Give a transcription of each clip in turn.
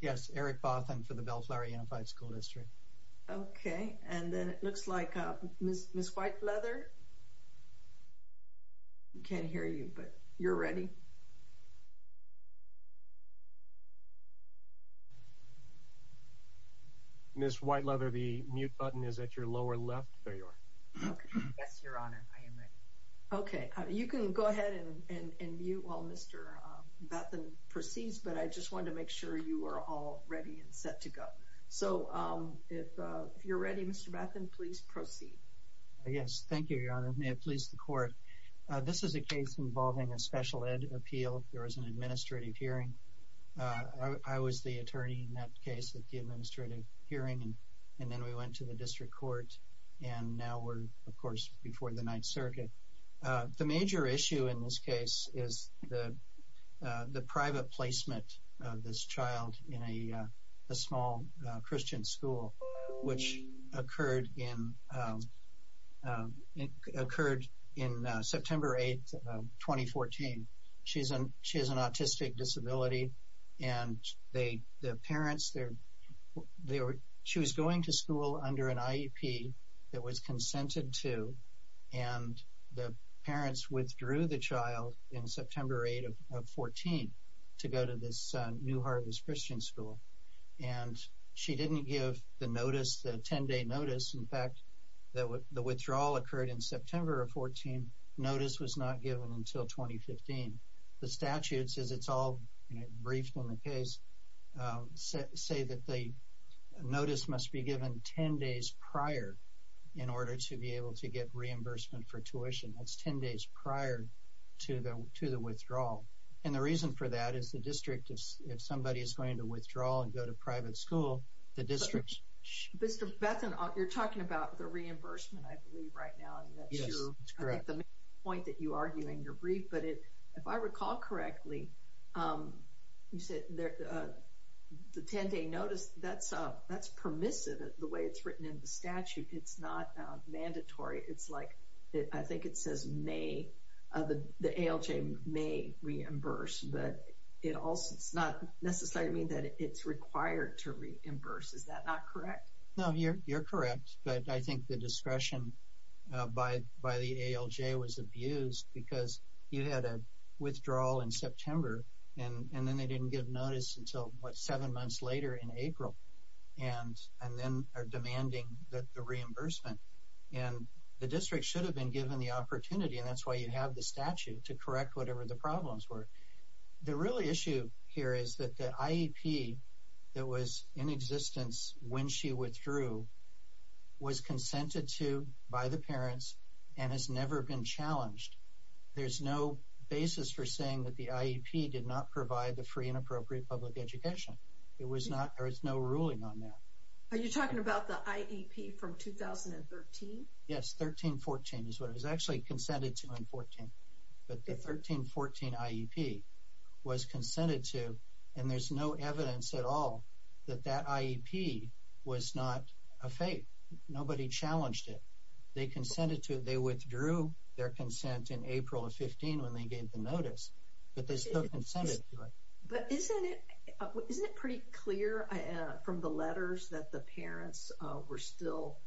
Yes, Eric Bothan for the Bellflower Unified Sch. Dist. Okay, and then it looks like Ms. Whiteleather... I can't hear you, but you're ready? Ms. Whiteleather, the mute button is at your lower left. There you are. Okay. Yes, Your Honor, I am ready. Okay, you can go ahead and mute while Mr. Bothan proceeds, but I just wanted to make sure you were all ready and set to go. So if you're ready, Mr. Bothan, please proceed. Yes, thank you, Your Honor. May it please the Court, this is a case involving a special ed appeal. There was an administrative hearing. I was the attorney in that case at the administrative hearing, and then we went to the District Court, and now we're, of course, before the Ninth Circuit. The major issue in this case is the private placement of this child in a small Christian school, which occurred in September 8, 2014. She has an autistic disability, and the parents, she was going to school under an IEP that was consented to, and the parents withdrew the child in September 8 of 2014 to go to this New Harvest Christian school, and she didn't give the notice, the 10-day notice. In fact, the withdrawal occurred in September of 2014. Notice was not given until 2015. The statutes, as it's all briefed on the case, say that the notice must be given 10 days prior in order to be able to get reimbursement for tuition. That's 10 days prior to the withdrawal, and the reason for that is the District, if somebody is going to withdraw and go to private school, the District should... Mr. Bethen, you're talking about the reimbursement, I believe, right now, and that's true. Yes, that's correct. I think the main point that you argue in your brief, but if I recall correctly, you said the 10-day notice, that's permissive, the way it's written in the statute, it's not mandatory. It's like, I think it says may, the ALJ may reimburse, but it also does not necessarily mean that it's required to reimburse. Is that not correct? No, you're correct, but I think the discretion by the ALJ was abused because you had a withdrawal in September, and then they didn't give notice until, what, seven months later in April, and then are demanding the reimbursement, and the District should have been given the opportunity, and that's why you have the statute, to correct whatever the problems were. The real issue here is that the IEP that was in existence when she withdrew was consented to by the parents and has never been challenged. There's no basis for saying that the IEP did not provide the free and appropriate public education. It was not, there is no ruling on that. Are you talking about the IEP from 2013? Yes, 13-14 is what it was actually consented to in 14, but the 13-14 IEP was consented to, and there's no evidence at all that that IEP was not a fate. Nobody challenged it. They consented to, they withdrew their consent in April of 15 when they gave the notice, but they still consented to it. But isn't it, isn't it pretty clear from the letters that the parents were still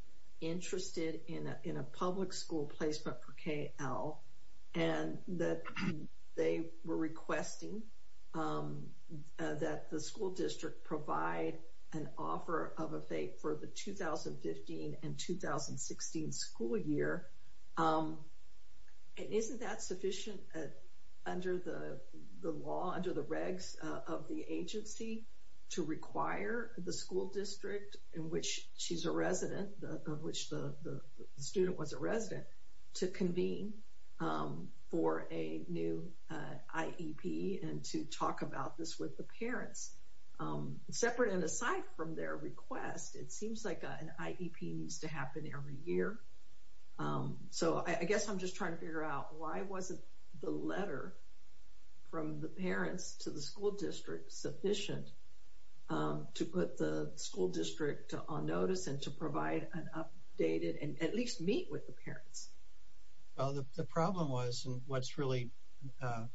interested in a public school placed by Pre-K-L, and that they were requesting that the school district provide an offer of a fate for the 2015 and 2016 school year? And isn't that sufficient under the law, under the regs of the agency to require the school district in which she's a resident, of which the student was a resident, to convene for a new IEP and to talk about this with the parents? Separate and aside from their request, it seems like an IEP needs to happen every year. So I guess I'm just trying to figure out, why wasn't the letter from the parents to the school district sufficient to put the school district on notice and to provide an updated, and at least meet with the parents? Well, the problem was, and what's really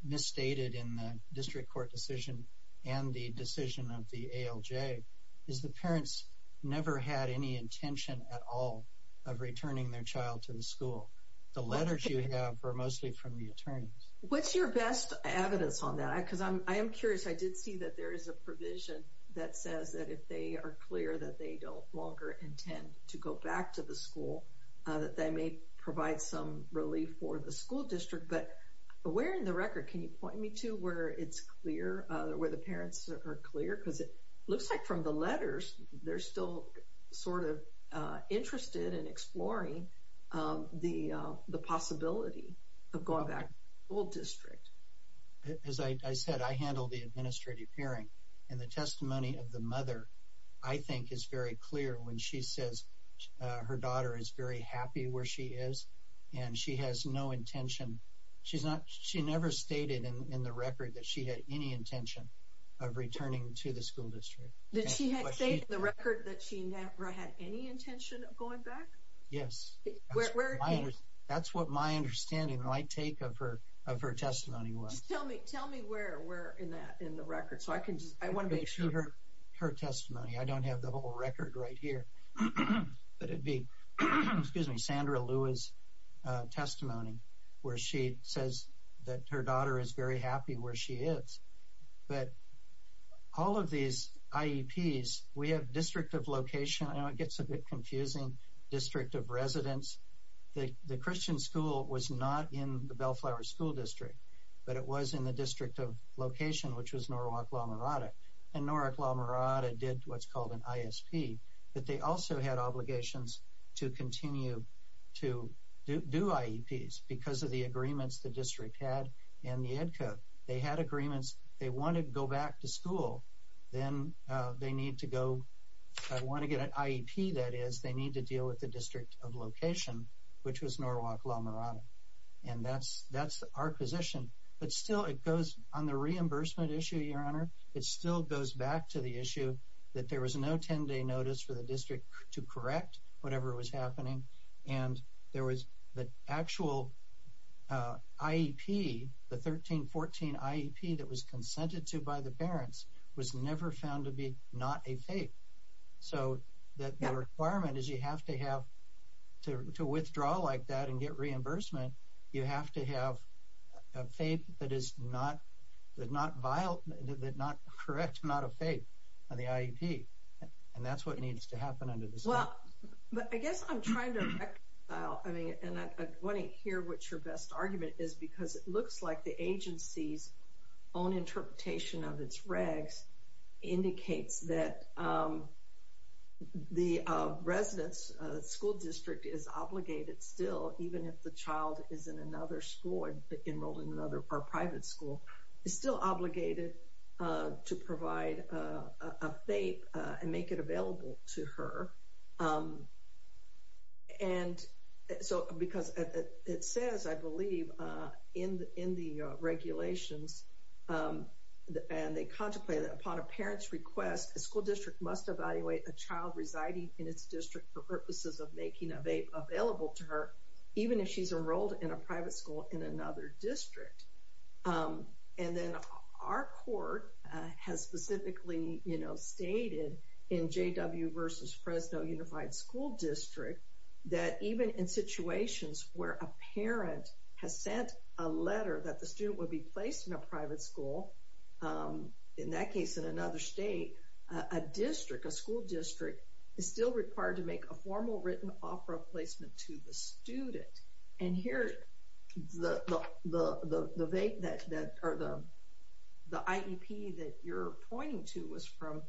misstated in the district court decision and the decision of the ALJ, is the parents never had any intention at all of returning their child to the school. The letters you have are mostly from the attorneys. What's your best evidence on that? Because I am curious, I did see that there is a provision that says that if they are clear that they don't longer intend to go back to the school, that they may provide some relief for the school district. But where in the record, can you point me to where it's clear, where the parents are clear? Because it looks like from the letters, they're still sort of interested in exploring the possibility of going back to the school district. As I said, I handle the administrative hearing, and the testimony of the mother, I think, is very clear when she says her daughter is very happy where she is, and she has no intention. She never stated in the record that she had any intention of returning to the school district. Did she say in the record that she never had any intention of going back? Yes. That's what my understanding, my take of her testimony was. Tell me where in the record. So I can just, I want to make sure. Her testimony, I don't have the whole record right here, but it'd be, excuse me, Sandra Lewis' testimony, where she says that her daughter is very happy where she is. But all of these IEPs, we have district of location. I know it gets a bit confusing, district of residence. The Christian school was not in the Bellflower School District, but it was in the district of location, which was Norwalk La Mirada. And Norwalk La Mirada did what's called an ISP, but they also had obligations to continue to do IEPs because of the agreements the district had in the Ed Code. They had agreements. They wanted to go back to school. Then they need to go. If I want to get an IEP, that is, they need to deal with the district of location, which was Norwalk La Mirada. And that's our position. But still it goes on the reimbursement issue, Your Honor. It still goes back to the issue that there was no 10-day notice for the district to correct whatever was happening. And there was the actual IEP, the 13-14 IEP that was consented to by the parents was never found to be not a FAPE. So the requirement is you have to have, to withdraw like that and get reimbursement, you have to have a FAPE that is not correct, not a FAPE on the IEP. And that's what needs to happen under this law. Well, but I guess I'm trying to reconcile. I mean, and I want to hear what your best argument is because it looks like the agency's own interpretation of its regs indicates that the residence, school district is obligated still, even if the child is in another school and enrolled in another private school, is still obligated to provide a FAPE and make it available to her. And so, because it says, I believe, in the regulations, and they contemplate that upon a parent's request, a school district must evaluate a child residing in its district for purposes of making a FAPE available to her, even if she's enrolled in a private school in another district. And then our court has specifically stated in J.W. versus Fresno Unified School District, that even in situations where a parent has sent a letter that the student would be placed in a private school, in that case, in another state, a district, a school district, is still required to make a formal written offer of placement to the student. And here, the IEP that you're pointing to was from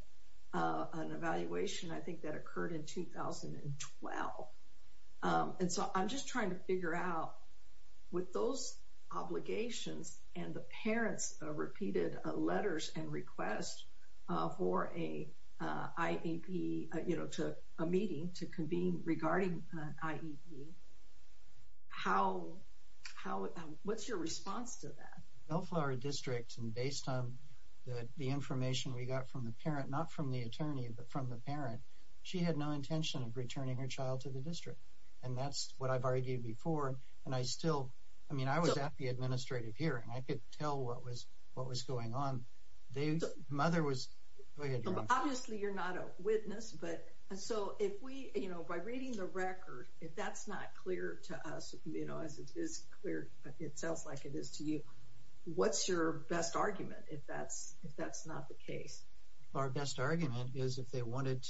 an evaluation, I think, that occurred in 2012. And so, I'm just trying to figure out, with those obligations and the parents' repeated letters and requests for a IEP, you know, to a meeting to convene regarding an IEP, how, what's your response to that? Well, for our district, and based on the information we got from the parent, not from the attorney, but from the parent, she had no intention of returning her child to the district. And that's what I've argued before. And I still, I mean, I was at the administrative hearing. I could tell what was going on. Mother was, go ahead, you're on. Obviously, you're not a witness, but so if we, you know, by reading the record, if that's not clear to us, you know, as it is clear, it sounds like it is to you, what's your best argument if that's not the case? Our best argument is if they wanted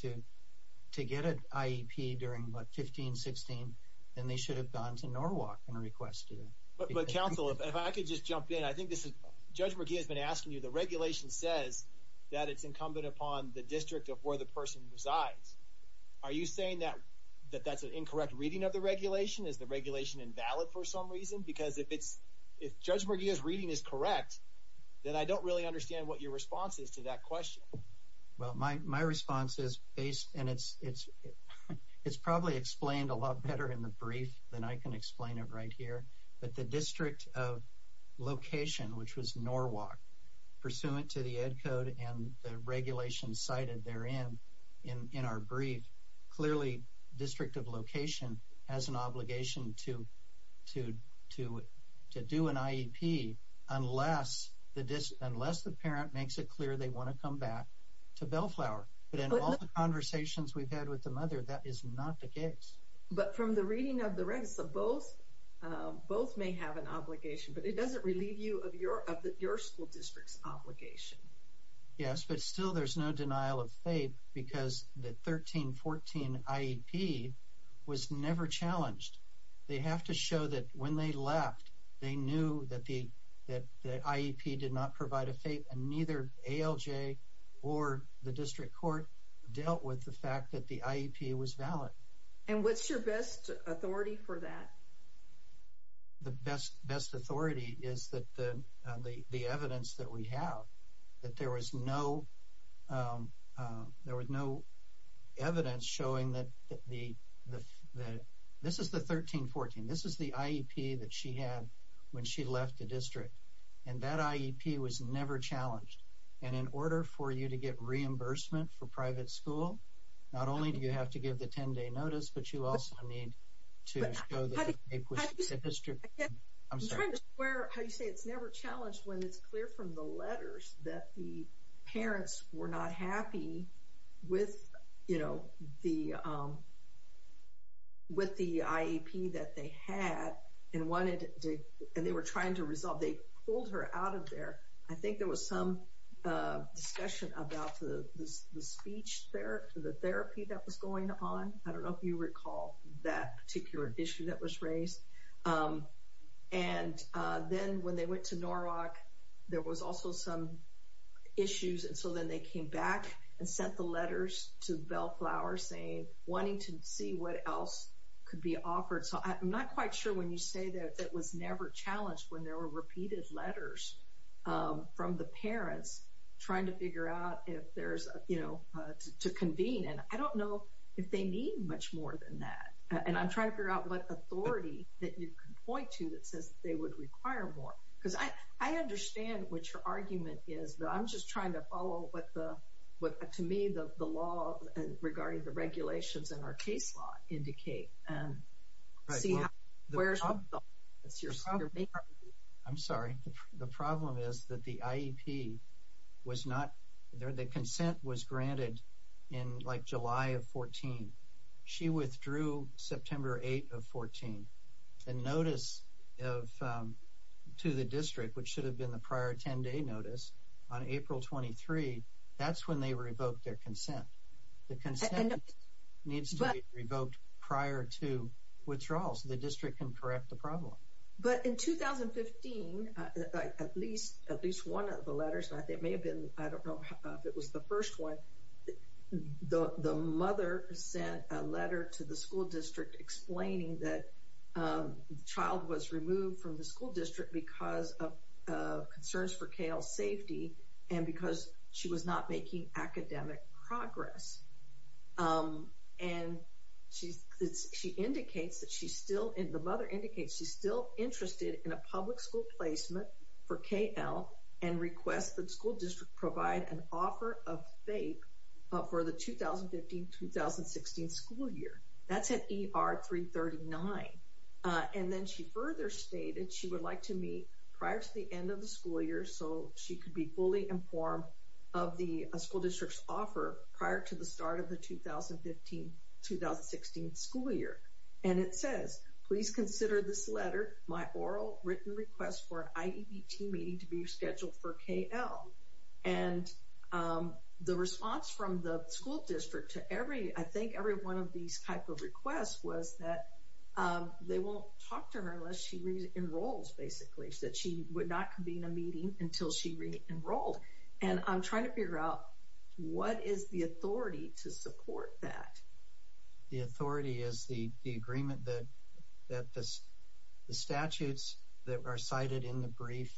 to get an IEP during, what, 15, 16, then they should have gone to Norwalk and requested it. But counsel, if I could just jump in, I think this is, Judge McGee has been asking you, the regulation says that it's incumbent upon the district of where the person resides. Are you saying that that's an incorrect reading of the regulation? Is the regulation invalid for some reason? Because if it's, if Judge McGee's reading is correct, then I don't really understand what your response is to that question. Well, my response is based, and it's probably explained a lot better in the brief than I can explain it right here. But the district of location, which was Norwalk, pursuant to the Ed Code and the regulation cited therein in our brief, clearly district of location has an obligation to do an IEP unless the parent makes it clear they want to come back to Bellflower. But in all the conversations we've had with the mother, that is not the case. But from the reading of the register, both may have an obligation, but it doesn't relieve you of your school district's obligation. Yes, but still there's no denial of faith because the 13-14 IEP was never challenged. They have to show that when they left, they knew that the IEP did not provide a faith, and neither ALJ or the district court dealt with the fact that the IEP was valid. And what's your best authority for that? The best authority is that the evidence that we have, that there was no evidence showing that the, the, this is the 13-14. This is the IEP that she had when she left the district. And that IEP was never challenged. And in order for you to get reimbursement for private school, not only do you have to give the 10-day notice, but you also need to show that the district, I'm sorry. I'm trying to square how you say it's never challenged when it's clear from the letters that the parents were not happy with, you know, the, with the IEP that they had and wanted to, and they were trying to resolve. They pulled her out of there. I think there was some discussion about the speech therapy that was going on. I don't know if you recall that particular issue that was raised. And then when they went to Norwalk, there was also some issues. And so then they came back and sent the letters to Bellflower saying, wanting to see what else could be offered. So I'm not quite sure when you say that that was never challenged when there were repeated letters from the parents trying to figure out if there's, you know, to convene. And I don't know if they need much more than that. And I'm trying to figure out what authority that you can point to that says they would require more. Because I understand what your argument is, but I'm just trying to follow what the, what, to me, the law regarding the regulations in our case law indicate and see how, where's your, that's your, your main. I'm sorry. The problem is that the IEP was not there. The consent was granted in like July of 14. She withdrew September 8 of 14. The notice of, to the district, which should have been the prior 10 day notice on April 23. That's when they revoked their consent. The consent needs to be revoked prior to withdrawal. So the district can correct the problem. But in 2015, at least, at least one of the letters, and I think it may have been, I don't know if it was the first one, the mother sent a letter to the school district explaining that the child was removed from the school district because of concerns for Kayle's safety. And because she was not making academic progress. And she's, she indicates that she's still, the mother indicates she's still interested in a public school placement for Kayle and requests that school district provide an offer of FAPE for the 2015-2016 school year. That's at ER 339. And then she further stated she would like to meet prior to the end of the school year. So she could be fully informed of the school district's offer prior to the start of the 2015-2016 school year. And it says, please consider this letter, my oral written request for an IEBT meeting to be scheduled for Kayle. And the response from the school district to every, I think every one of these type of requests was that they won't talk to her unless she re-enrolls, basically. That she would not convene a meeting until she re-enrolled. And I'm trying to figure out what is the authority to support that? The authority is the agreement that the statutes that are cited in the brief,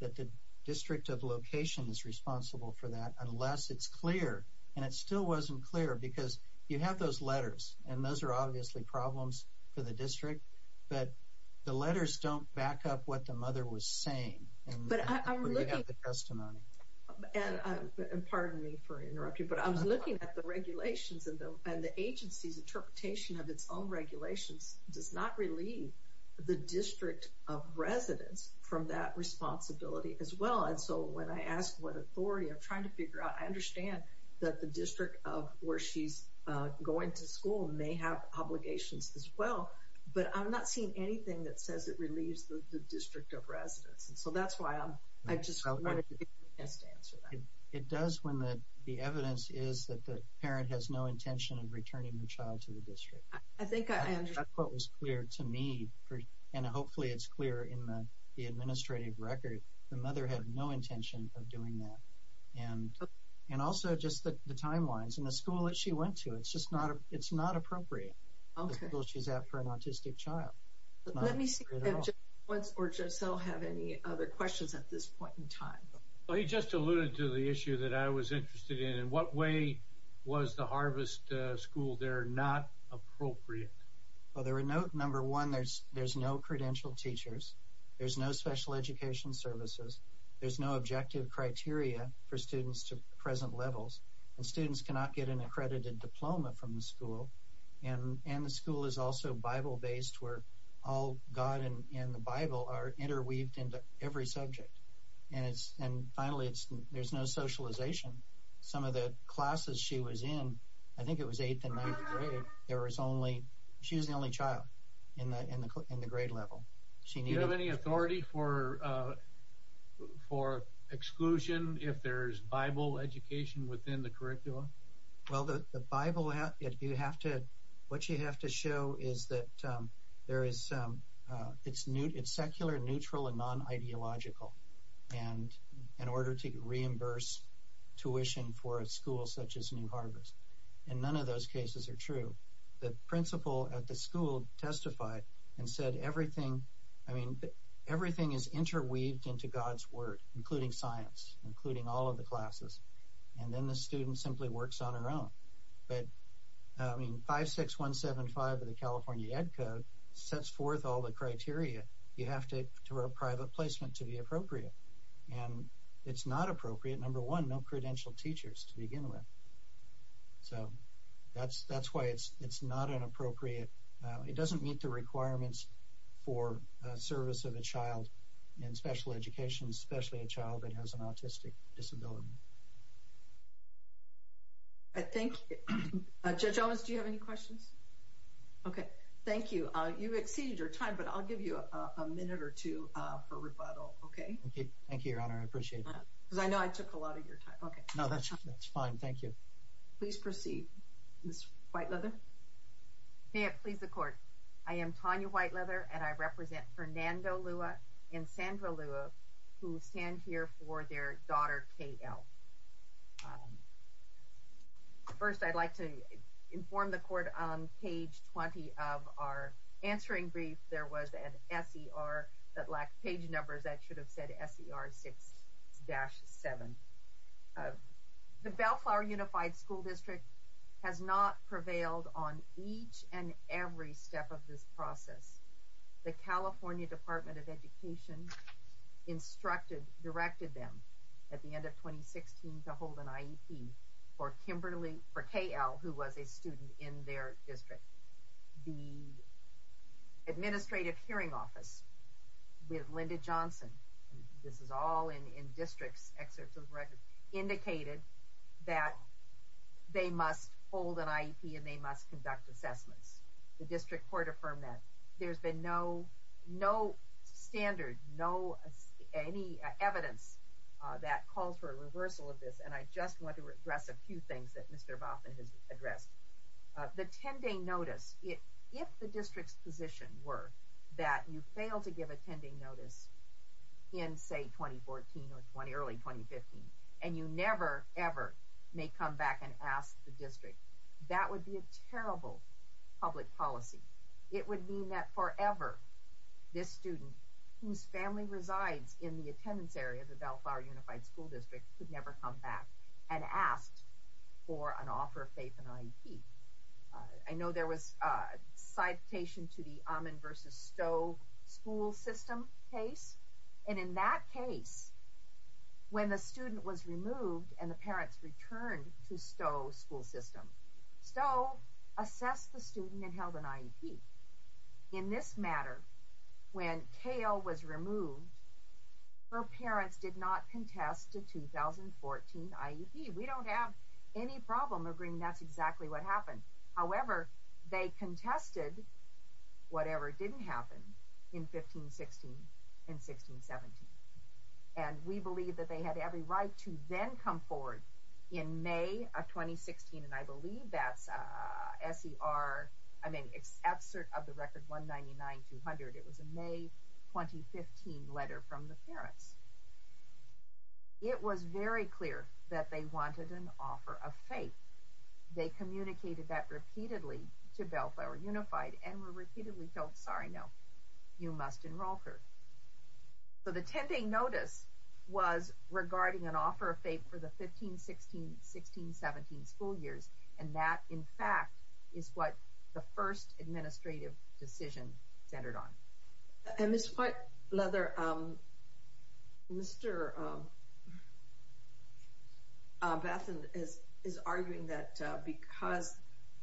that the district of location is responsible for that unless it's clear. And it still wasn't clear because you have those letters and those are obviously problems for the district. But the letters don't back up what the mother was saying. But I'm looking at the testimony. And pardon me for interrupting, but I was looking at the regulations and the agency's interpretation of its own regulations does not relieve the district of residence from that responsibility as well. And so when I asked what authority, I'm trying to figure out, I understand that the district of where she's going to school may have obligations as well. But I'm not seeing anything that says it relieves the district of residence. And so that's why I just wanted to answer that. It does when the evidence is that the parent has no intention of returning the child to the district. I think what was clear to me, and hopefully it's clear in the administrative record, the mother had no intention of doing that. And also just the timelines and the school that she went to, it's not appropriate. She's out for an autistic child. Let me see if Jim or Giselle have any other questions at this point in time. Well, he just alluded to the issue that I was interested in. In what way was the Harvest School there not appropriate? Well, there were no, number one, there's no credentialed teachers. There's no special education services. There's no objective criteria for students to present levels. And students cannot get an accredited diploma from the school. And the school is also Bible-based where all God and the Bible are interweaved into every subject. And finally, there's no socialization. Some of the classes she was in, I think it was eighth and ninth grade, there was only, she was the only child in the grade level. Do you have any authority for exclusion if there's Bible education within the curriculum? Well, what you have to show is that it's secular, neutral, and non-ideological. And in order to reimburse tuition for a school such as New Harvest, and none of those cases are true. The principal at the school testified and said everything is interweaved into God's Word, including science, including all of the classes. And then the student simply works on her own. But I mean, 56175 of the California Ed Code sets forth all the criteria you have to do a private placement to be appropriate. And it's not appropriate, number one, no credentialed teachers to begin with. So that's why it's not an appropriate, it doesn't meet the requirements for service of a child in special education, especially a child that has an autistic disability. I think, Judge Owens, do you have any questions? Okay, thank you. You've exceeded your time, but I'll give you a minute or two for rebuttal, okay? Okay, thank you, Your Honor. I appreciate that. Because I know I took a lot of your time. Okay. No, that's fine. Thank you. Please proceed, Ms. Whiteleather. May it please the court. I am Tanya Whiteleather, and I represent Fernando Lua and Sandra Lua, who stand here for their daughter, K.L. First, I'd like to inform the court on page 20 of our answering brief. There was an S.E.R. that lacked page numbers. That should have said S.E.R. 6-7. The Bellflower Unified School District has not prevailed on each and every step of this process. The California Department of Education instructed, directed them at the end of 2016 to hold an IEP for Kimberly, for K.L., who was a student in their district. The Administrative Hearing Office with Linda Johnson, this is all in district's excerpts of the record, indicated that they must hold an IEP and they must conduct assessments. The district court affirmed that. There's been no standard, no, any evidence that calls for a reversal of this, and I just want to address a few things that Mr. Baughman has addressed. The 10-day notice, if the district's position were that you fail to give a 10-day notice in, say, 2014 or early 2015, and you never, ever may come back and ask the district, that would be a terrible public policy. It would mean that forever, this student, whose family resides in the attendance area, the Belfire Unified School District, could never come back and ask for an offer of faith in IEP. I know there was a citation to the Ammon versus Stowe school system case, and in that case, when the student was removed and the parents returned to Stowe school system, Stowe assessed the student and held an IEP. In this matter, when Kayle was removed, her parents did not contest a 2014 IEP. We don't have any problem agreeing that's exactly what happened. However, they contested whatever didn't happen in 15-16 and 16-17, and we believe that they had every right to then come forward in May of 2016, and I believe that's SER, I mean, it's absurd of the record 199-200. It was a May 2015 letter from the parents. It was very clear that they wanted an offer of faith. They communicated that repeatedly to Belfire Unified and were repeatedly told, sorry, no, you must enroll her. So the 10-day notice was regarding an offer of faith for the 15-16, 16-17 school years, and that, in fact, is what the first administrative decision centered on. And Ms. Whiteleather, Mr. Bathin is arguing that because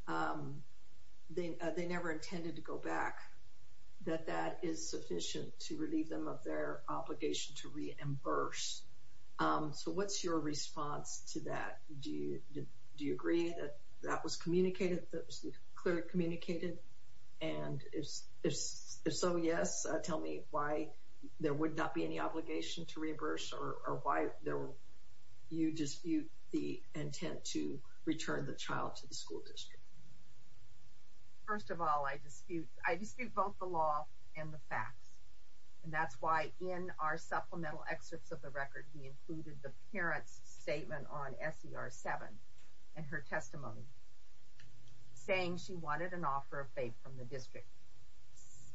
they never intended to go back, that that is sufficient to relieve them of their obligation to reimburse. So what's your response to that? Do you agree that that was communicated, that it was clearly communicated? And if so, yes, tell me why there would not be any obligation to reimburse or why you dispute the intent to return the child to the school district. Ms. Whiteleather First of all, I dispute both the law and the facts, and that's why in our supplemental excerpts of the record, we included the parent's statement on SER 7 and her testimony saying she wanted an offer of faith from the district.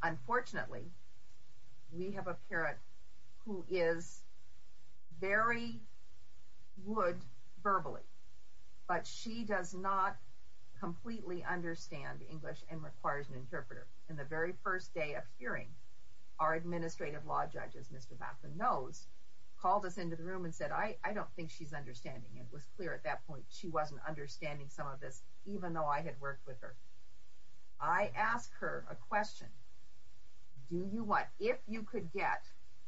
Unfortunately, we have a parent who is very good verbally, but she does not completely understand English and requires an interpreter. And the very first day of hearing, our administrative law judge, as Mr. Bathin knows, called us into the room and said, I don't think she's understanding. It was clear at that point she wasn't understanding some of this, even though I had worked with her. I asked her a question. Do you want, if you could get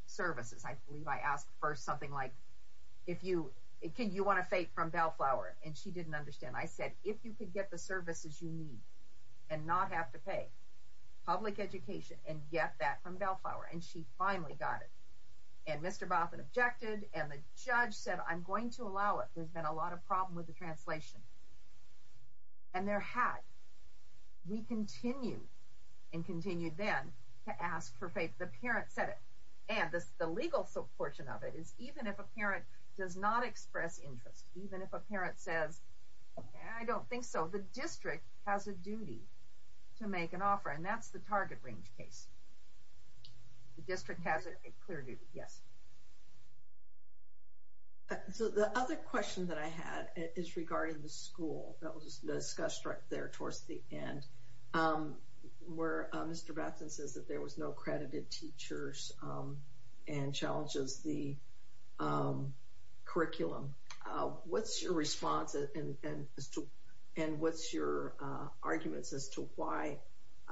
services, I believe I asked first something like, if you, can you want a faith from Bellflower? And she didn't understand. I said, if you could get the services you need and not have to pay public education and get that from Bellflower, and she finally got it. And Mr. Bathin objected. And the judge said, I'm going to allow it. There's been a lot of problem with the translation. And there had. We continued and continued then to ask for faith. The parent said it. And the legal portion of it is even if a parent does not express interest, even if a parent says, I don't think so, the district has a duty to make an offer. And that's the target range case. The district has a clear duty. Yes. So the other question that I had is regarding the school that was discussed right there towards the end, where Mr. Bathin says that there was no accredited teachers and challenges the curriculum. What's your response? And what's your arguments as to why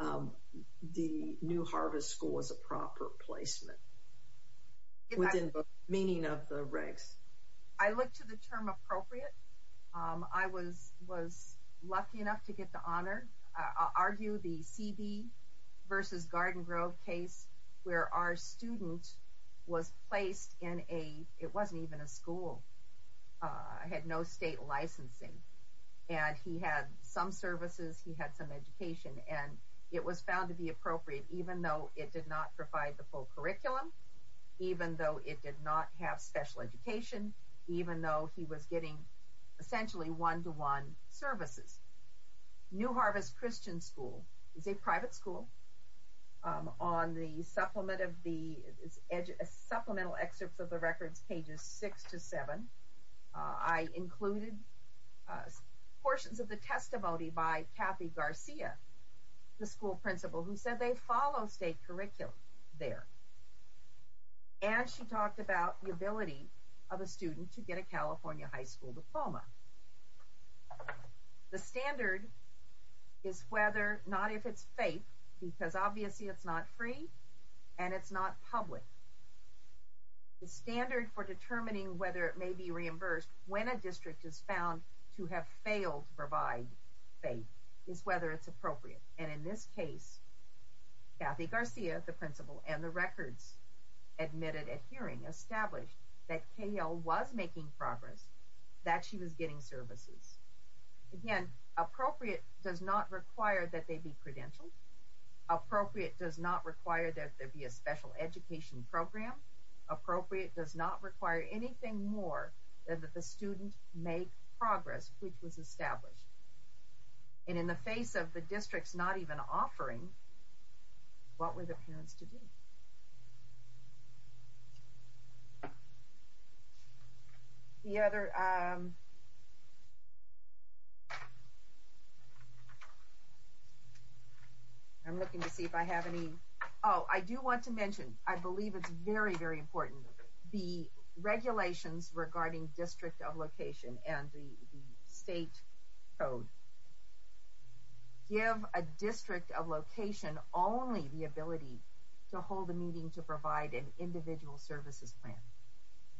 the new Harvest School was a proper placement within the meaning of the regs? I look to the term appropriate. I was lucky enough to get the honor. I'll argue the CB versus Garden Grove case where our student was placed in a, it wasn't even a school. I had no state licensing. And he had some services. He had some education. And it was found to be appropriate, even though it did not provide the full curriculum, even though it did not have special education, even though he was getting essentially one-to-one services. New Harvest Christian School is a private school. On the supplement of the supplemental excerpts of the records, pages six to seven, I included portions of the testimony by Kathy Garcia. The school principal who said they follow state curriculum there. And she talked about the ability of a student to get a California high school diploma. The standard is whether not if it's faith, because obviously it's not free and it's not public. The standard for determining whether it may be reimbursed when a district is found to have failed to provide faith is whether it's appropriate. And in this case, Kathy Garcia, the principal, and the records admitted at hearing established that KL was making progress, that she was getting services. Again, appropriate does not require that they be credentialed. Appropriate does not require that there be a special education program. Appropriate does not require anything more than that the student make progress, which was established. And in the face of the districts not even offering, what were the parents to do? I'm looking to see if I have any, oh, I do want to mention, I believe it's very, very important. The regulations regarding district of location and the state code give a district of location only the ability to hold a meeting to provide an individual services plan.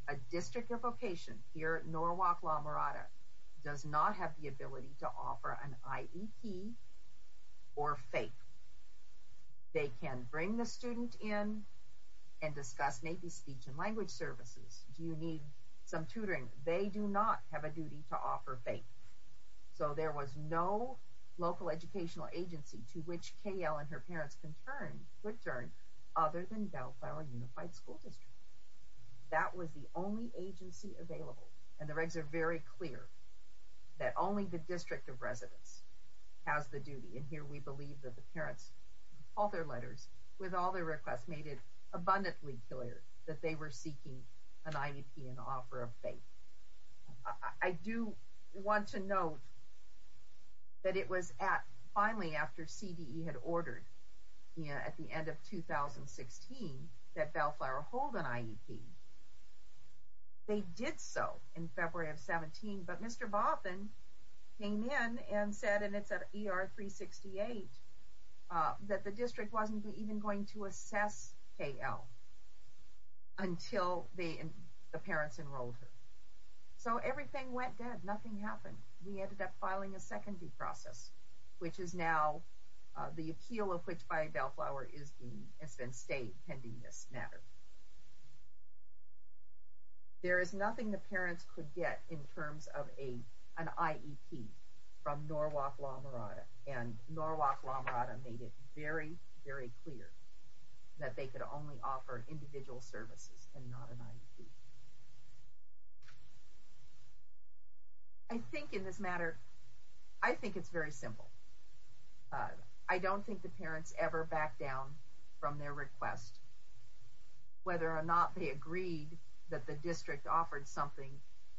A district of location here at Norwalk-La Mirada does not have the ability to offer an IEP or faith. They can bring the student in and discuss maybe speech and language services. Do you need some tutoring? They do not have a duty to offer faith. So there was no local educational agency to which KL and her parents could turn other than Bellflower Unified School District. That was the only agency available. And the regs are very clear that only the district of residence has the duty. And here we believe that the parents, all their letters with all their requests made it abundantly clear that they were seeking an IEP and offer of faith. I do want to note that it was at finally after CDE had ordered at the end of 2016 that Bellflower hold an IEP. They did so in February of 17, but Mr. Baughman came in and said, and it's at ER 368, that the district wasn't even going to assess KL until the parents enrolled her. So everything went dead. Nothing happened. We ended up filing a second due process, which is now the appeal of which by Bellflower has been stayed pending this matter. There is nothing the parents could get in terms of an IEP from Norwalk La Mirada and Norwalk La Mirada made it very, very clear that they could only offer individual services and not an IEP. I think in this matter, I think it's very simple. I don't think the parents ever backed down from their request, whether or not they agreed that the district offered something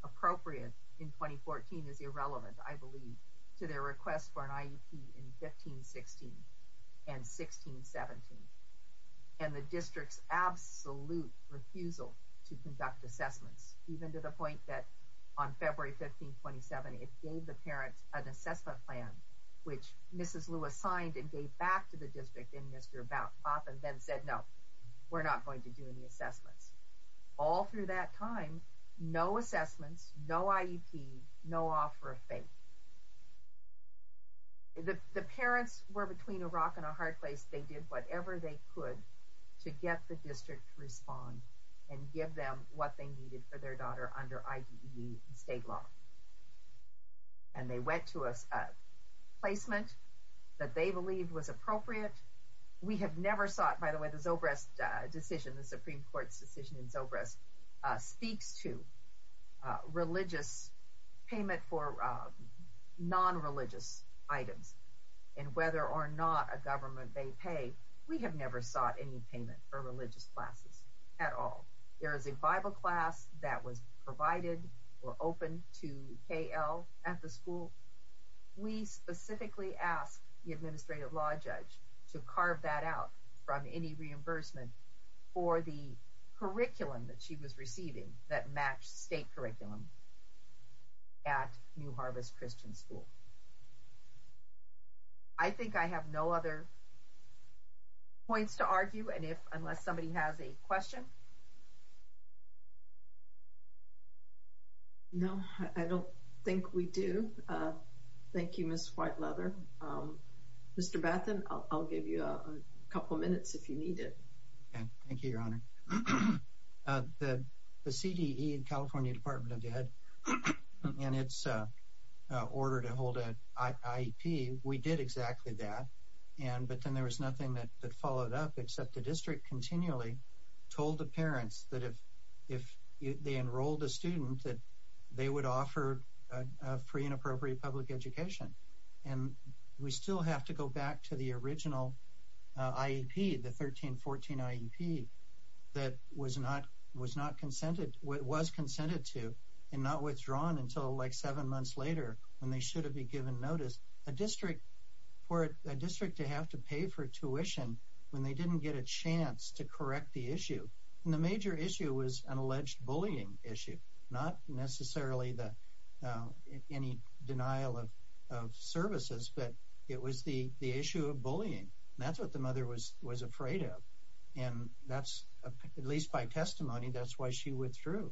appropriate in 2014 is irrelevant, I believe, to their request for an IEP in 15, 16 and 16, 17. And the district's absolute refusal to conduct assessments, even to the point that on February 15, 27, it gave the parents an assessment plan, which Mrs. Lewis signed and gave back to the district and Mr. Balfa then said, no, we're not going to do any assessments. All through that time, no assessments, no IEP, no offer of faith. The parents were between a rock and a hard place. They did whatever they could to get the district to respond and give them what they needed for their daughter under IDE state law. And they went to a placement that they believed was appropriate. We have never sought, by the way, the Zobrist decision, the Supreme Court's decision in Zobrist speaks to religious payment for non-religious items and whether or not a government may pay. We have never sought any payment for religious classes at all. There is a Bible class that was provided or open to KL at the school. We specifically asked the administrative law judge to carve that out from any reimbursement for the curriculum that she was receiving that matched state curriculum at New Harvest Christian School. I think I have no other points to argue. Unless somebody has a question. No, I don't think we do. Thank you, Ms. Whiteleather. Mr. Bethen, I'll give you a couple minutes if you need it. Thank you, Your Honor. The CDE, California Department of Ed, in its order to hold an IEP, we did exactly that. But then there was nothing that followed up except the district continually told the parents that if they enrolled a student that they would offer free and appropriate public education. And we still have to go back to the original IEP, the 1314 IEP, that was not consented, was consented to and not withdrawn until like seven months later when they should have been given notice. A district, for a district to have to pay for tuition when they didn't get a chance to correct the issue. And the major issue was an alleged bullying issue, not necessarily any denial of services, but it was the issue of bullying. That's what the mother was afraid of. And that's, at least by testimony, that's why she withdrew.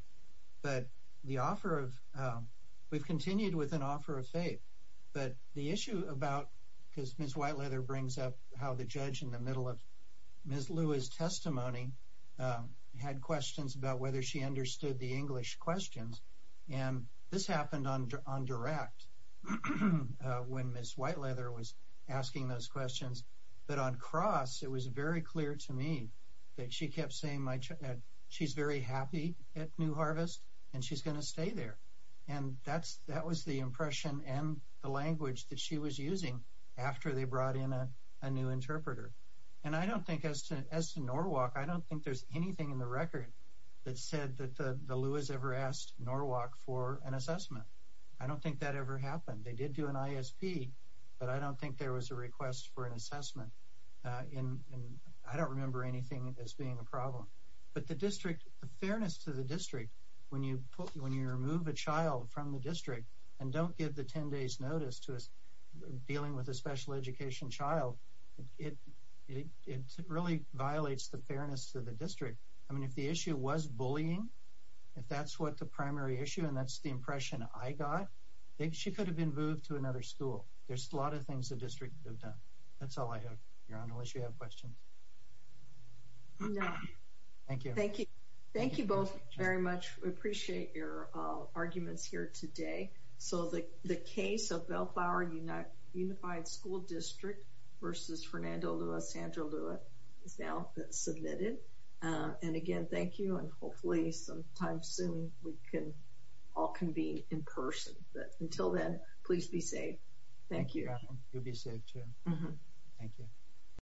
But the offer of, we've continued with an offer of faith. But the issue about, because Ms. Whiteleather brings up how the judge in the middle of Ms. Lewis' testimony had questions about whether she understood the English questions. And this happened on direct when Ms. Whiteleather was asking those questions. But on cross, it was very clear to me that she kept saying, she's very happy at New Harvest and she's going to stay there. And that was the impression and the language that she was using after they brought in a new interpreter. And I don't think as to Norwalk, I don't think there's anything in the record that said that the Lewis ever asked Norwalk for an assessment. I don't think that ever happened. They did do an ISP, but I don't think there was a request for an assessment. I don't remember anything as being a problem. But the district, the fairness to the district, when you remove a child from the district and don't give the 10 days notice to dealing with a special education child, it really violates the fairness to the district. I mean, if the issue was bullying, if that's what the primary issue and that's the impression I got, she could have been moved to another school. There's a lot of things the district could have done. That's all I have, Your Honor, unless you have questions. No. Thank you. Thank you. Thank you both very much. We appreciate your arguments here today. So the case of Bellflower Unified School District versus Fernando Luis, Sandra Luis is now submitted. And again, thank you. And hopefully sometime soon we can all convene in person. But until then, please be safe. Thank you. You be safe too. Thank you.